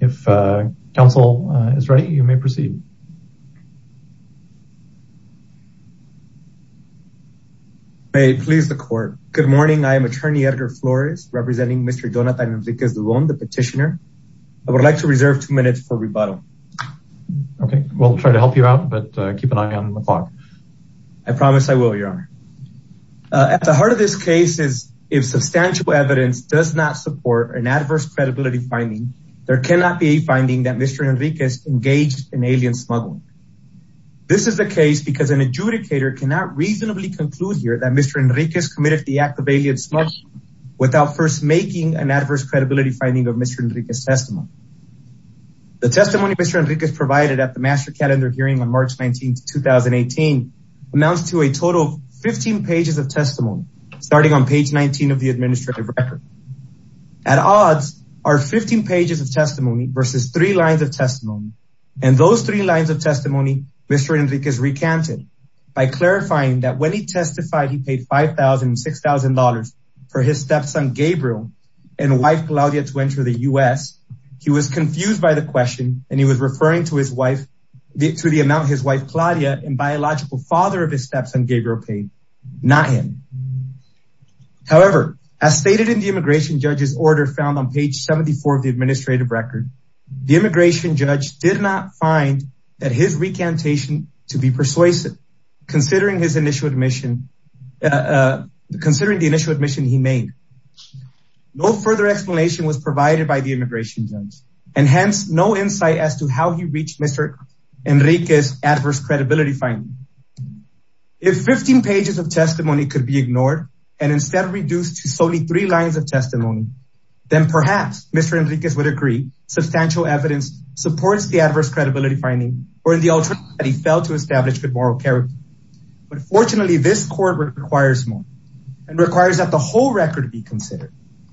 If counsel is ready, you may proceed. May it please the court. Good morning, I am attorney editor Flores, representing Mr. Donatan Henriquez-Dubon, the petitioner. I would like to reserve two minutes for rebuttal. Okay, we'll try to help you out, but keep an eye on the clock. I promise I will, your honor. At the heart of this case is if substantial evidence does not support an adverse credibility finding, there cannot be a finding that Mr. Henriquez engaged in alien smuggling. This is the case because an adjudicator cannot reasonably conclude here that Mr. Henriquez committed the act of alien smuggling without first making an adverse credibility finding of Mr. Henriquez's testimony. The testimony Mr. Henriquez provided at the Master Calendar hearing on March 19, 2018, amounts to a total of 15 pages of testimony, starting on page 19 of the administrative record. At odds are 15 pages of testimony versus three lines of testimony. In those three lines of testimony, Mr. Henriquez recanted by clarifying that when he testified he paid $5,000 and $6,000 for his stepson Gabriel and wife Claudia to enter the U.S., he was confused by the question and he was referring to the amount his wife Claudia and biological father of his stepson Gabriel paid, not him. However, as stated in the immigration judge's order found on page 74 of the administrative record, the immigration judge did not find that his recantation to be persuasive, considering the initial admission he made. No further explanation was provided by the immigration judge, and hence no insight as to how he reached Mr. Henriquez's adverse credibility finding. If 15 pages of testimony could be ignored and instead reduced to solely three lines of testimony, then perhaps Mr. Henriquez would agree substantial evidence supports the adverse credibility finding, or in the alternative that he failed to establish good moral character. But fortunately, this court requires more, and requires that the whole record be considered.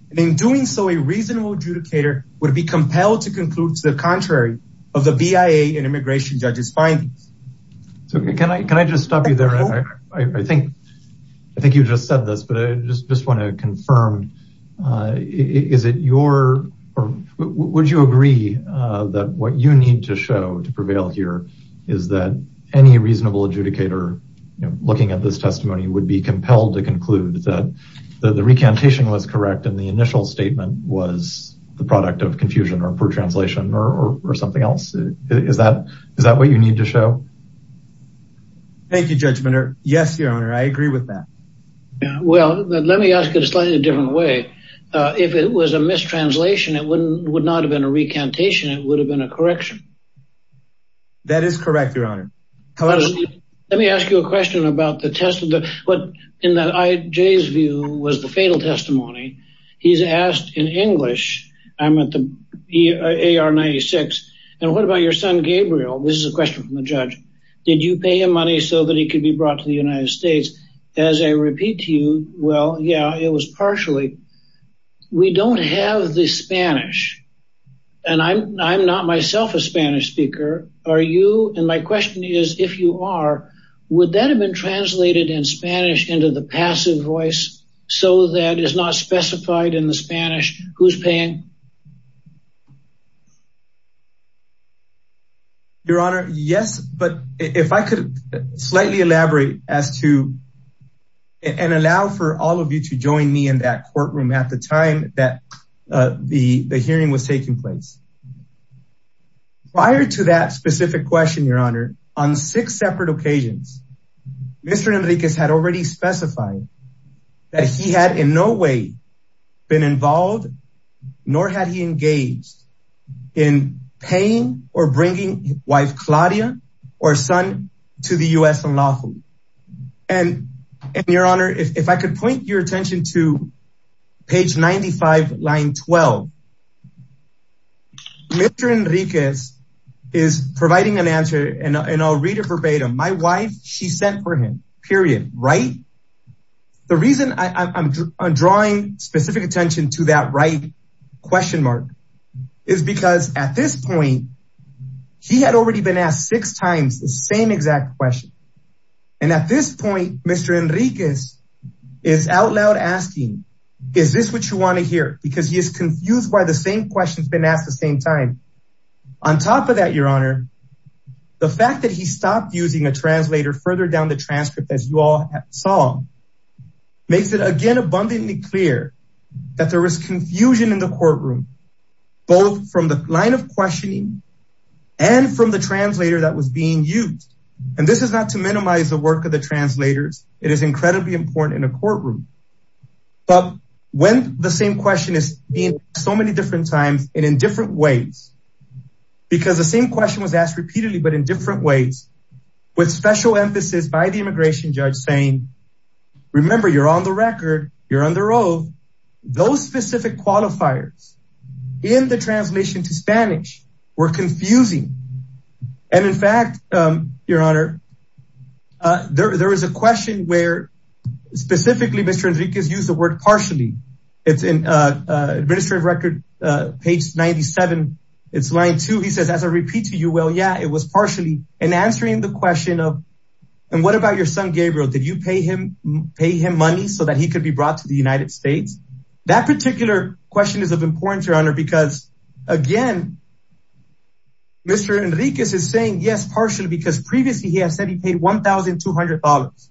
And in doing so, a reasonable adjudicator would be compelled to conclude to the contrary of the BIA and immigration judge's findings. So can I just stop you there? I think you just said this, but I just want to confirm, is it your, would you agree that what you need to show to prevail here is that any reasonable adjudicator looking at this testimony would be compelled to conclude that the recantation was correct and the initial statement was the product of confusion or poor translation or something else? Is that what you need to show? Thank you, Judge Minner. Yes, Your Honor, I agree with that. Well, let me ask it a slightly different way. If it was a mistranslation, it would not have been a recantation, it would have been a correction. That is correct, Your Honor. Let me ask you a question about the test of the, what in that IJ's view was the fatal testimony. He's asked in English, I'm at the AR-96, and what about your son Gabriel? This is a question from the judge. Did you pay him money so that he could be brought to the United States? As I repeat to you, well, yeah, it was partially. We don't have the Spanish. And I'm not myself a Spanish speaker. Are you? And my question is, if you are, would that have been translated in Spanish into the passive voice so that is not specified in the Spanish? Who's paying? Your Honor, yes, but if I could slightly elaborate as to and allow for all of you to join me in that courtroom at the time that the hearing was taking place. Prior to that specific question, Your Honor, on six separate occasions, Mr. Enriquez had already specified that he had in no way been involved, nor had he engaged in paying or bringing his wife Claudia or son to the U.S. in La Jolla. And, Your Honor, if I could point your attention to page 95, line 12. Mr. Enriquez is providing an answer, and I'll read it verbatim. My wife, she sent for him, period, right? The reason I'm drawing specific attention to that right question mark is because at this point, he had already been asked six times the same exact question. And at this point, Mr. Enriquez is out loud asking, is this what you want to hear? Because he is confused by the same questions been asked the same time. On top of that, Your Honor, the fact that he stopped using a translator further down the transcript, as you all saw, makes it again abundantly clear that there was confusion in the courtroom, both from the line of questioning and from the translator that was being used. And this is not to minimize the work of the translators. It is incredibly important in a courtroom. But when the same question is asked so many different times and in different ways, because the same question was asked repeatedly, but in different ways, with special emphasis by the immigration judge saying, remember, you're on the record, you're on the road. Those specific qualifiers in the translation to Spanish were confusing. And in fact, Your Honor, there is a question where specifically Mr. Enriquez used the word partially. It's in administrative record page 97. It's line two. He says, as I repeat to you, well, yeah, it was partially in answering the question of and what about your son Gabriel? Did you pay him, pay him money so that he could be brought to the United States? That particular question is of importance, Your Honor, because, again, Mr. Enriquez is saying yes, partially because previously he has said he paid one thousand two hundred dollars.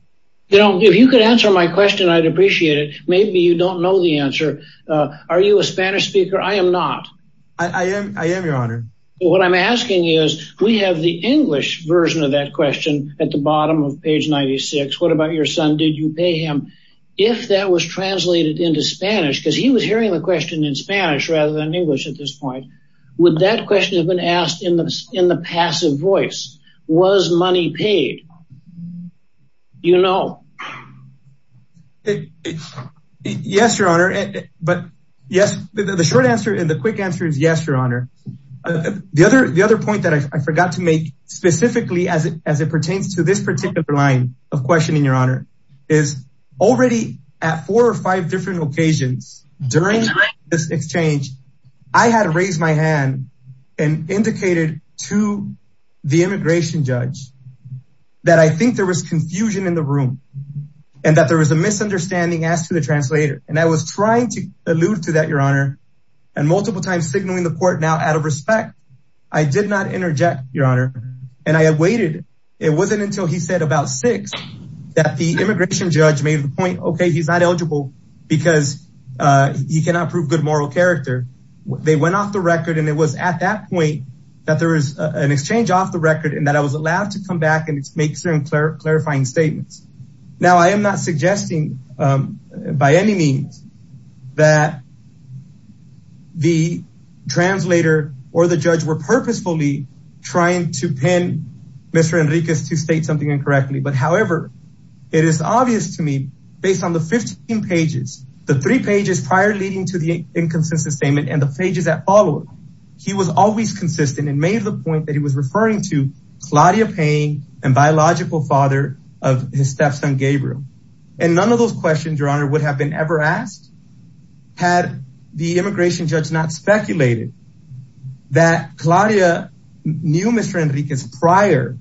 You know, if you could answer my question, I'd appreciate it. Maybe you don't know the answer. Are you a Spanish speaker? I am not. I am. I am, Your Honor. What I'm asking is we have the English version of that question at the bottom of page 96. What about your son? Did you pay him? If that was translated into Spanish because he was hearing the question in Spanish rather than English at this point. Would that question have been asked in the in the passive voice? Was money paid? You know. Yes, Your Honor. But yes, the short answer and the quick answer is yes, Your Honor. The other the other point that I forgot to make specifically as it as it pertains to this particular line of questioning, Your Honor, is already at four or five different occasions during this exchange. I had raised my hand and indicated to the immigration judge that I think there was confusion in the room and that there was a misunderstanding as to the translator. And I was trying to allude to that, Your Honor, and multiple times signaling the court. Now, out of respect, I did not interject, Your Honor. And I had waited. It wasn't until he said about six that the immigration judge made the point, OK, he's not eligible because he cannot prove good moral character. They went off the record. And it was at that point that there is an exchange off the record and that I was allowed to come back and make certain clarifying statements. Now, I am not suggesting by any means that. The translator or the judge were purposefully trying to pin Mr. Enriquez to state something incorrectly, but however, it is obvious to me based on the 15 pages, the three pages prior leading to the inconsistent statement and the pages that followed. He was always consistent and made the point that he was referring to Claudia Payne and biological father of his stepson, Gabriel. And none of those questions, Your Honor, would have been ever asked had the immigration judge not speculated that Claudia knew Mr. Enriquez prior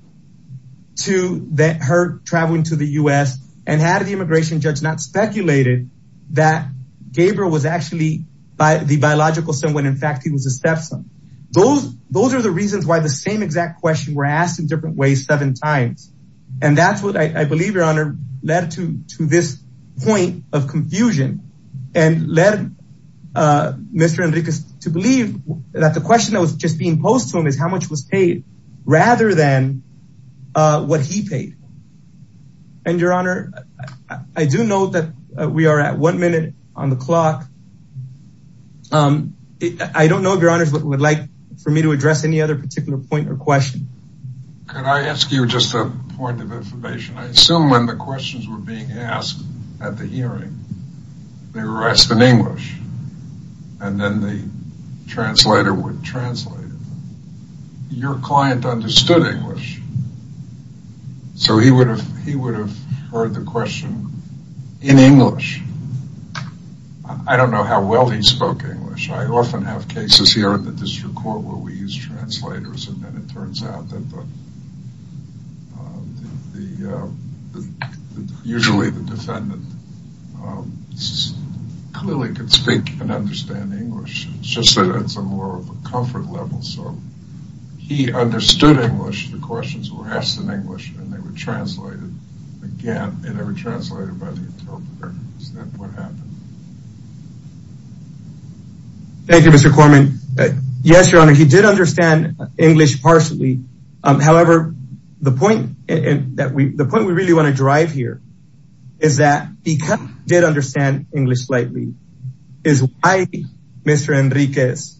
to her traveling to the U.S. and had the immigration judge not speculated that Gabriel was actually by the biological son when, in fact, he was a stepson. Those those are the reasons why the same exact question were asked in different ways seven times. And that's what I believe, Your Honor, led to to this point of confusion and led Mr. Enriquez to believe that the question that was just being posed to him is how much was paid rather than what he paid. And, Your Honor, I do know that we are at one minute on the clock. I don't know if Your Honor would like for me to address any other particular point or question. Could I ask you just a point of information? I assume when the questions were being asked at the hearing, they were asked in English. And then the translator would translate. Your client understood English. So he would have he would have heard the question in English. I don't know how well he spoke English. I often have cases here in the district court where we use translators. And then it turns out that the usually the defendant clearly could speak and understand English. It's just that it's a more of a comfort level. So he understood English. The questions were asked in English and they were translated again. Thank you, Mr. Corman. Yes, Your Honor. He did understand English partially. However, the point that we the point we really want to drive here is that he did understand English slightly. is why Mr. Enriquez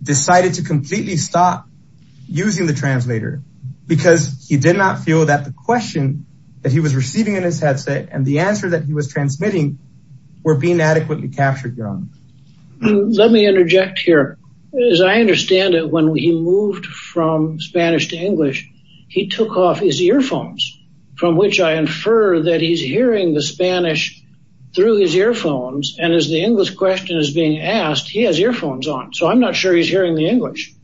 decided to completely stop using the translator. Because he did not feel that the question that he was receiving in his headset and the answer that he was transmitting were being adequately captured, Your Honor. Let me interject here. As I understand it, when he moved from Spanish to English, he took off his earphones, from which I infer that he's hearing the Spanish through his earphones. And as the English question is being asked, he has earphones on. So I'm not sure he's hearing the English.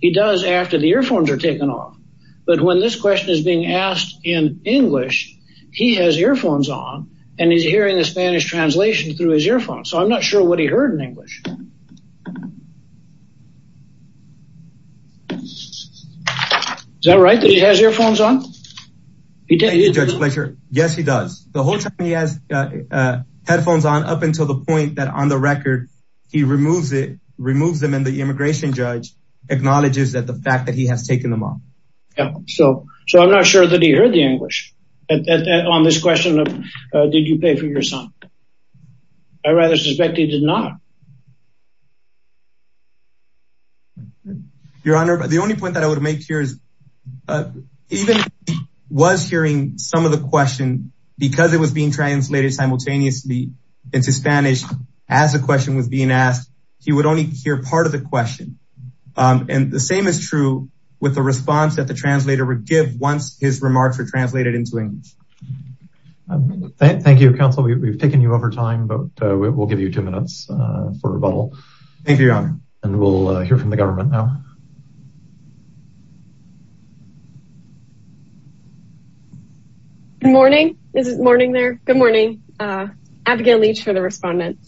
He does after the earphones are taken off. But when this question is being asked in English, he has earphones on and he's hearing the Spanish translation through his earphones. So I'm not sure what he heard in English. Is that right that he has earphones on? Yes, he does. The whole time he has headphones on up until the point that on the record, he removes it, removes them. And the immigration judge acknowledges that the fact that he has taken them off. So I'm not sure that he heard the English on this question. Did you pay for your son? I rather suspect he did not. Your Honor, the only point that I would make here is even if he was hearing some of the question, because it was being translated simultaneously into Spanish, as the question was being asked, he would only hear part of the question. And the same is true with the response that the translator would give once his remarks were translated into English. Thank you, Counsel. We've taken you over time, but we'll give you two minutes for rebuttal. Thank you, Your Honor. And we'll hear from the government now. Good morning. Is it morning there? Good morning. Abigail Leach for the respondent.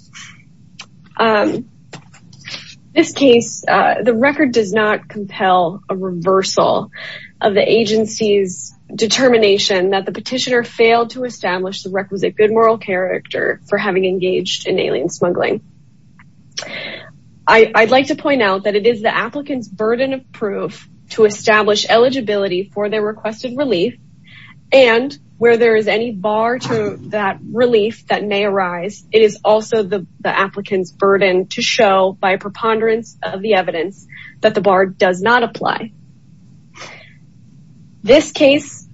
This case, the record does not compel a reversal of the agency's determination that the petitioner failed to establish the requisite good moral character for having engaged in alien smuggling. I'd like to point out that it is the applicant's burden of proof to establish eligibility for their requested relief. And where there is any bar to that relief that may arise, it is also the applicant's burden to show by preponderance of the evidence that the bar does not apply. This case,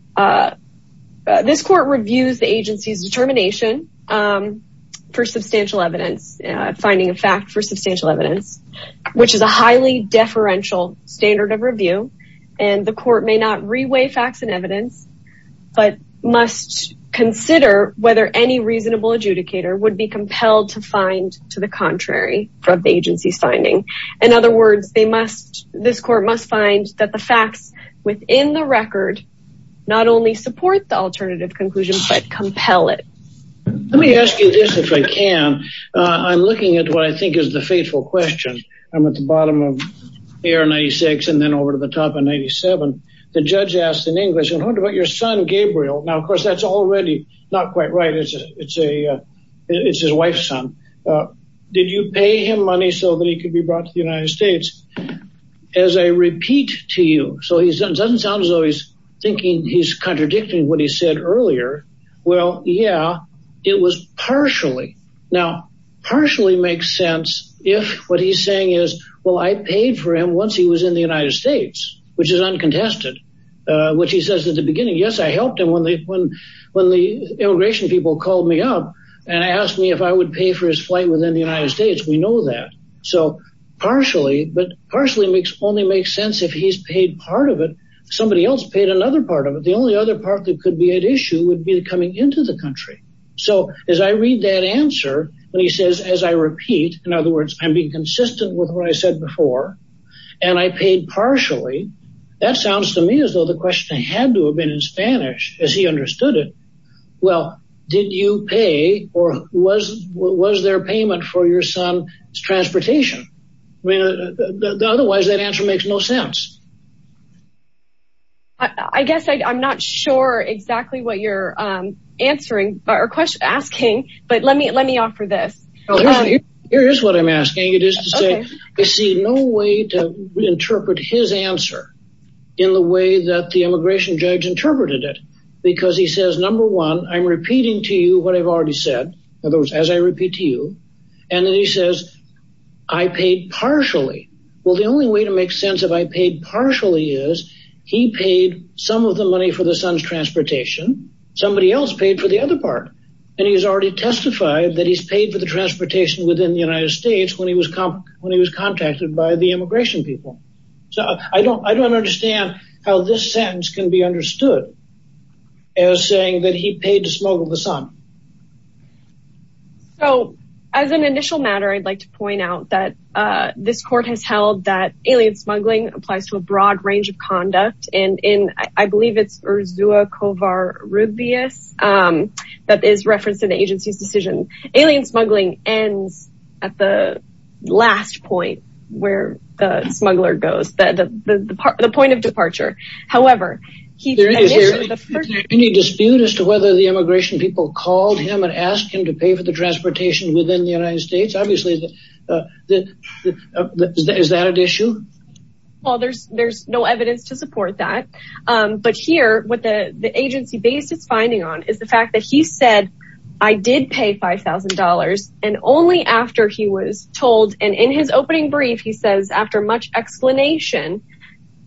this court reviews the agency's determination for substantial evidence, finding a fact for substantial evidence, which is a highly deferential standard of review. And the court may not reweigh facts and evidence, but must consider whether any reasonable adjudicator would be compelled to find to the contrary from the agency's finding. In other words, this court must find that the facts within the record not only support the alternative conclusion, but compel it. Let me ask you this, if I can. I'm looking at what I think is the faithful question. I'm at the bottom of year 96 and then over to the top of 97. The judge asked in English, I wonder about your son, Gabriel. Now, of course, that's already not quite right. It's his wife's son. Did you pay him money so that he could be brought to the United States? As I repeat to you, so he doesn't sound as though he's thinking he's contradicting what he said earlier. Well, yeah, it was partially. Now, partially makes sense if what he's saying is, well, I paid for him once he was in the United States, which is uncontested, which he says at the beginning. Yes, I helped him when they when when the immigration people called me up and asked me if I would pay for his flight within the United States. We know that. So partially, but partially makes only makes sense if he's paid part of it. Somebody else paid another part of it. The only other part that could be at issue would be coming into the country. So as I read that answer and he says, as I repeat, in other words, I'm being consistent with what I said before and I paid partially. That sounds to me as though the question had to have been in Spanish as he understood it. Well, did you pay or was what was their payment for your son's transportation? I mean, otherwise, that answer makes no sense. I guess I'm not sure exactly what you're answering or asking, but let me let me offer this. Here's what I'm asking. It is to say, I see no way to interpret his answer in the way that the immigration judge interpreted it, because he says, number one, I'm repeating to you what I've already said. In other words, as I repeat to you, and then he says, I paid partially. Well, the only way to make sense of I paid partially is he paid some of the money for the son's transportation. Somebody else paid for the other part. And he's already testified that he's paid for the transportation within the United States when he was when he was contacted by the immigration people. So I don't I don't understand how this sentence can be understood as saying that he paid to smuggle the son. So as an initial matter, I'd like to point out that this court has held that alien smuggling applies to a broad range of conduct. And I believe it's Ursula Kovar Rubio's that is referenced in the agency's decision. Alien smuggling ends at the last point where the smuggler goes, the point of departure. However, he there is any dispute as to whether the immigration people called him and asked him to pay for the transportation within the United States. Obviously, that is that an issue? Well, there's there's no evidence to support that. But here with the agency basis finding on is the fact that he said, I did pay five thousand dollars. And only after he was told and in his opening brief, he says, after much explanation,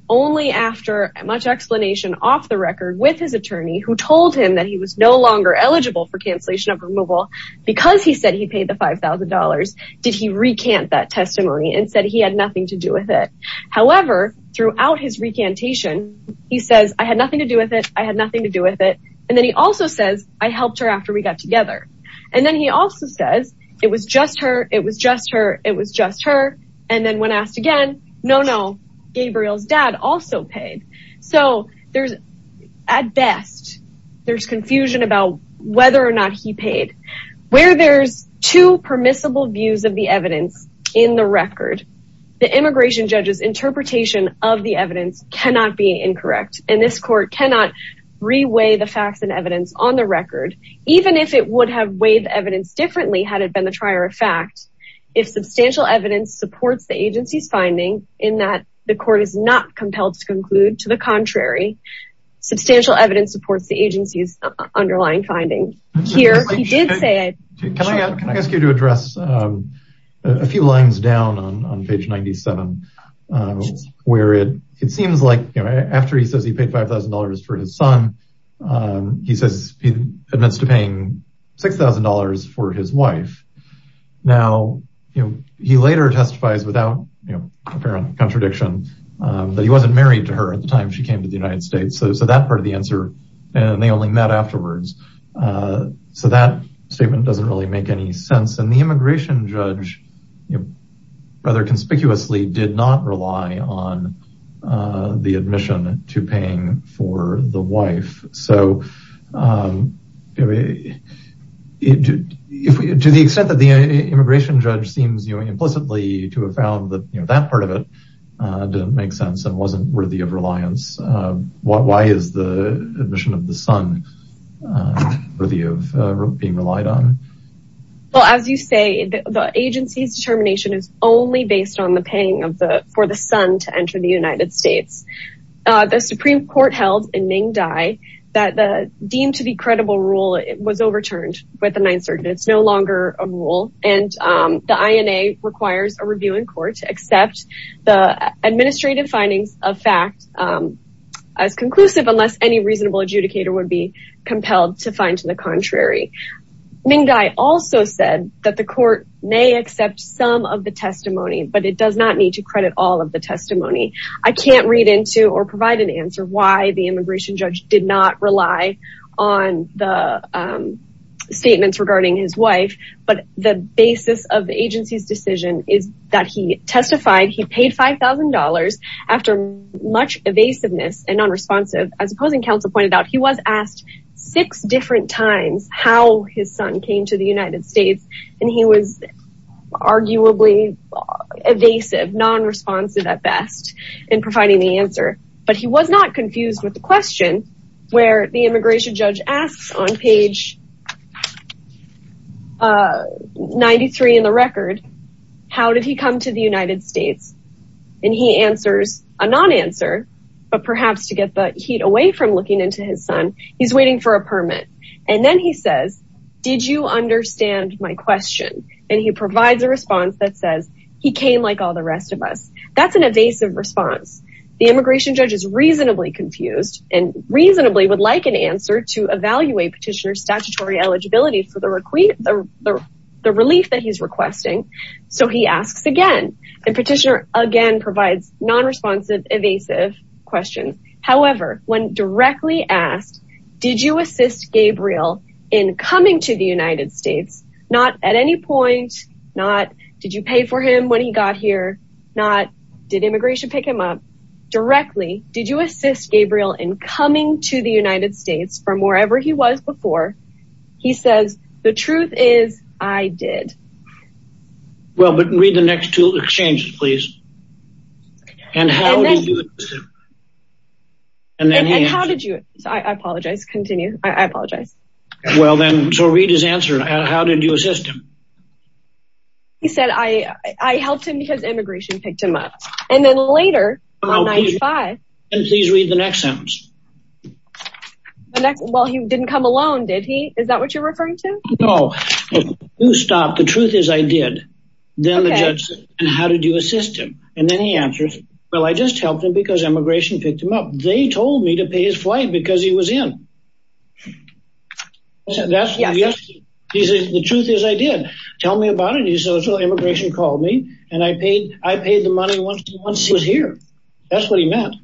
only after much explanation off the record with his attorney who told him that he was no longer eligible for cancellation of removal because he said he paid the five thousand dollars. Did he recant that testimony and said he had nothing to do with it? However, throughout his recantation, he says, I had nothing to do with it. I had nothing to do with it. And then he also says, I helped her after we got together. And then he also says it was just her. It was just her. It was just her. And then when asked again, no, no. Gabriel's dad also paid. So there's at best there's confusion about whether or not he paid where there's two permissible views of the evidence in the record. The immigration judges interpretation of the evidence cannot be incorrect. And this court cannot reweigh the facts and evidence on the record, even if it would have weighed evidence differently had it been the trier of fact. If substantial evidence supports the agency's finding in that the court is not compelled to conclude to the contrary, substantial evidence supports the agency's underlying finding here. Can I ask you to address a few lines down on page 97, where it seems like after he says he paid five thousand dollars for his son, he says he admits to paying six thousand dollars for his wife. Now, he later testifies without apparent contradiction that he wasn't married to her at the time she came to the United States. So that part of the answer and they only met afterwards. So that statement doesn't really make any sense. And the immigration judge rather conspicuously did not rely on the admission to paying for the wife. So to the extent that the immigration judge seems implicitly to have found that part of it didn't make sense and wasn't worthy of reliance. Why is the admission of the son worthy of being relied on? Well, as you say, the agency's determination is only based on the paying for the son to enter the United States. The Supreme Court held in Ming Dai that the deemed to be credible rule was overturned by the Ninth Circuit. It's no longer a rule. And the INA requires a review in court to accept the administrative findings of fact as conclusive, unless any reasonable adjudicator would be compelled to find to the contrary. Ming Dai also said that the court may accept some of the testimony, but it does not need to credit all of the testimony. I can't read into or provide an answer why the immigration judge did not rely on the statements regarding his wife. But the basis of the agency's decision is that he testified he paid $5,000 after much evasiveness and non-responsive. As opposing counsel pointed out, he was asked six different times how his son came to the United States. And he was arguably evasive, non-responsive at best in providing the answer. But he was not confused with the question where the immigration judge asks on page 93 in the record, how did he come to the United States? And he answers a non-answer, but perhaps to get the heat away from looking into his son. He's waiting for a permit. And then he says, did you understand my question? And he provides a response that says he came like all the rest of us. That's an evasive response. The immigration judge is reasonably confused and reasonably would like an answer to evaluate petitioner's statutory eligibility for the relief that he's requesting. So he asks again and petitioner again provides non-responsive evasive question. However, when directly asked, did you assist Gabriel in coming to the United States? Not at any point, not did you pay for him when he got here? Not did immigration pick him up directly? Did you assist Gabriel in coming to the United States from wherever he was before? He says, the truth is I did. Well, but read the next two exchanges, please. And how did you do it? And then how did you? I apologize. Continue. I apologize. Well, then, so read his answer. How did you assist him? He said, I helped him because immigration picked him up. And then later, on 95. And please read the next sentence. Well, he didn't come alone, did he? Is that what you're referring to? No. Stop. The truth is I did. Then how did you assist him? And then he answers. Well, I just helped him because immigration picked him up. They told me to pay his flight because he was in. That's the truth is I did. Tell me about it. He says, well, immigration called me and I paid. I paid the money once he was here. That's what he meant.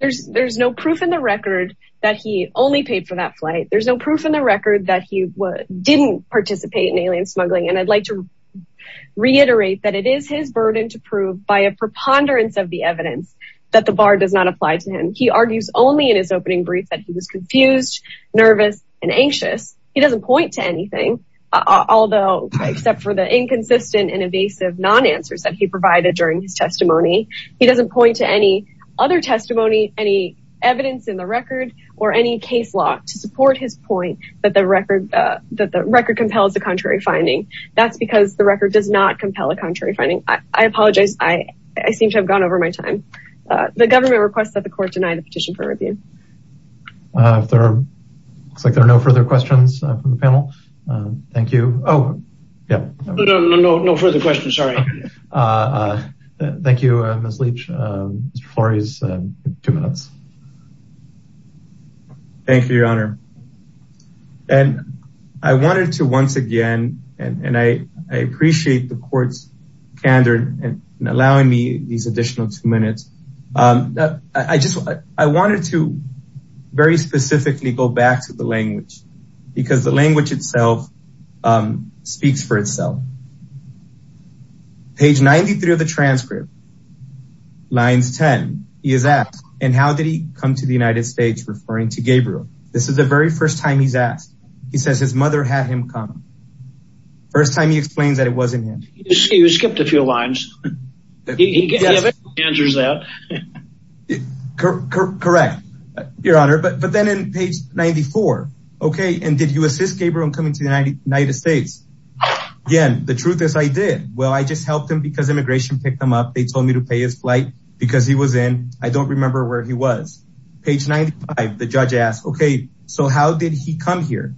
There's there's no proof in the record that he only paid for that flight. There's no proof in the record that he didn't participate in alien smuggling. And I'd like to reiterate that it is his burden to prove by a preponderance of the evidence that the bar does not apply to him. He argues only in his opening brief that he was confused, nervous and anxious. He doesn't point to anything, although except for the inconsistent and evasive non answers that he provided during his testimony. He doesn't point to any other testimony, any evidence in the record or any case law to support his point. But the record that the record compels the contrary finding. That's because the record does not compel a contrary finding. I apologize. I seem to have gone over my time. The government requests that the court deny the petition for review. There are no further questions from the panel. Thank you. Oh, yeah. No, no, no. No further questions. Sorry. Thank you, Ms. Leach. Mr. Flores, two minutes. Thank you, Your Honor. And I wanted to once again. And I appreciate the court's candor and allowing me these additional two minutes. I just I wanted to very specifically go back to the language because the language itself speaks for itself. Page 93 of the transcript. Lines 10 is that and how did he come to the United States? Referring to Gabriel. This is the very first time he's asked. He says his mother had him come first time. He explains that it wasn't him. You skipped a few lines. He answers that. Correct. Your Honor. But then in page 94. OK. And did you assist Gabriel in coming to the United States? Again, the truth is I did. Well, I just helped him because immigration picked him up. They told me to pay his flight because he was in. I don't remember where he was. Page 95. The judge asked, OK, so how did he come here?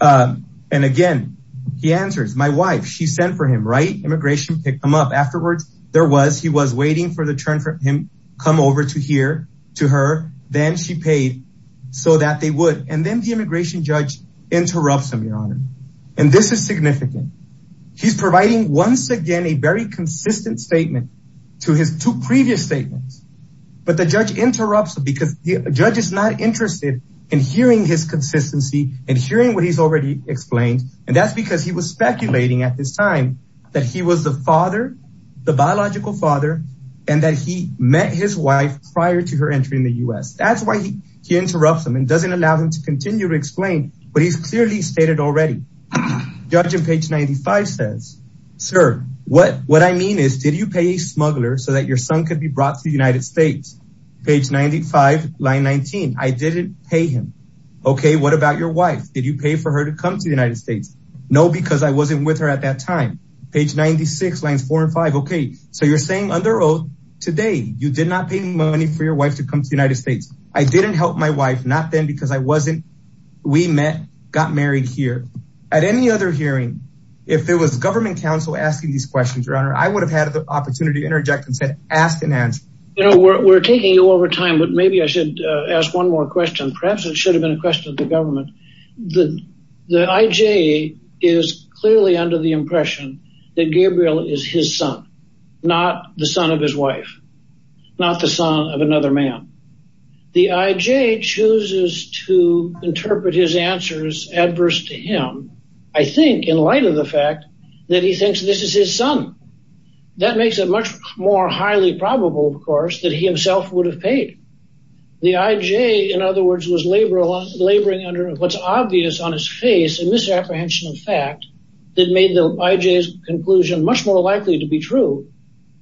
And again, he answers my wife. She sent for him. Right. Immigration picked him up afterwards. There was he was waiting for the turn for him. Come over to here to her. Then she paid so that they would. And then the immigration judge interrupts him, Your Honor. And this is significant. He's providing once again a very consistent statement to his two previous statements. But the judge interrupts because the judge is not interested in hearing his consistency and hearing what he's already explained. And that's because he was speculating at this time that he was the father, the biological father, and that he met his wife prior to her entry in the US. That's why he interrupts him and doesn't allow him to continue to explain what he's clearly stated already. Judge in page 95 says, Sir, what what I mean is, did you pay a smuggler so that your son could be brought to the United States? Page 95, line 19. I didn't pay him. OK, what about your wife? Did you pay for her to come to the United States? No, because I wasn't with her at that time. Page 96, lines four and five. OK, so you're saying under oath today you did not pay money for your wife to come to the United States. I didn't help my wife. Not then because I wasn't. We met, got married here. At any other hearing, if there was government counsel asking these questions, your honor, I would have had the opportunity to interject and ask an answer. You know, we're taking you over time, but maybe I should ask one more question. Perhaps it should have been a question of the government that the IJ is clearly under the impression that Gabriel is his son, not the son of his wife, not the son of another man. The IJ chooses to interpret his answers adverse to him, I think, in light of the fact that he thinks this is his son. That makes it much more highly probable, of course, that he himself would have paid. The IJ, in other words, was laboring under what's obvious on his face, a misapprehension of fact that made the IJ's conclusion much more likely to be true.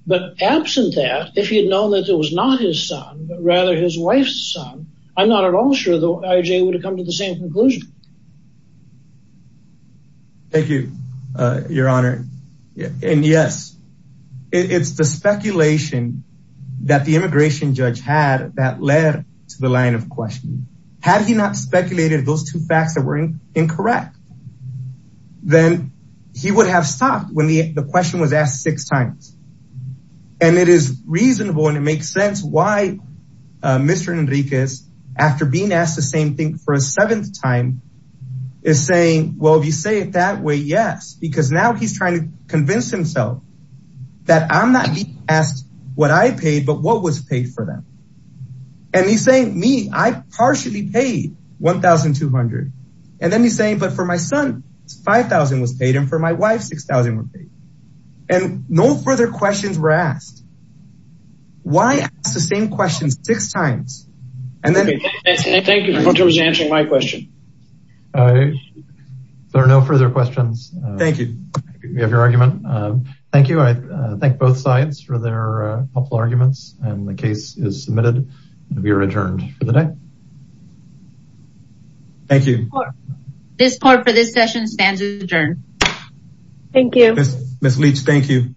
But absent that, if he had known that it was not his son, but rather his wife's son, I'm not at all sure the IJ would have come to the same conclusion. Thank you, your honor. And yes, it's the speculation that the immigration judge had that led to the line of questioning. Had he not speculated those two facts that were incorrect, then he would have stopped when the question was asked six times. And it is reasonable and it makes sense why Mr. Enriquez, after being asked the same thing for a seventh time, is saying, well, if you say it that way, yes. Because now he's trying to convince himself that I'm not being asked what I paid, but what was paid for them. And he's saying, me, I partially paid 1,200. And then he's saying, but for my son, 5,000 was paid and for my wife, 6,000 were paid. And no further questions were asked. Why ask the same questions six times? Thank you for answering my question. There are no further questions. Thank you. We have your argument. Thank you. I thank both sides for their helpful arguments. And the case is submitted. We are adjourned for the day. Thank you. This part for this session stands adjourned. Thank you, Miss Leach. Thank you.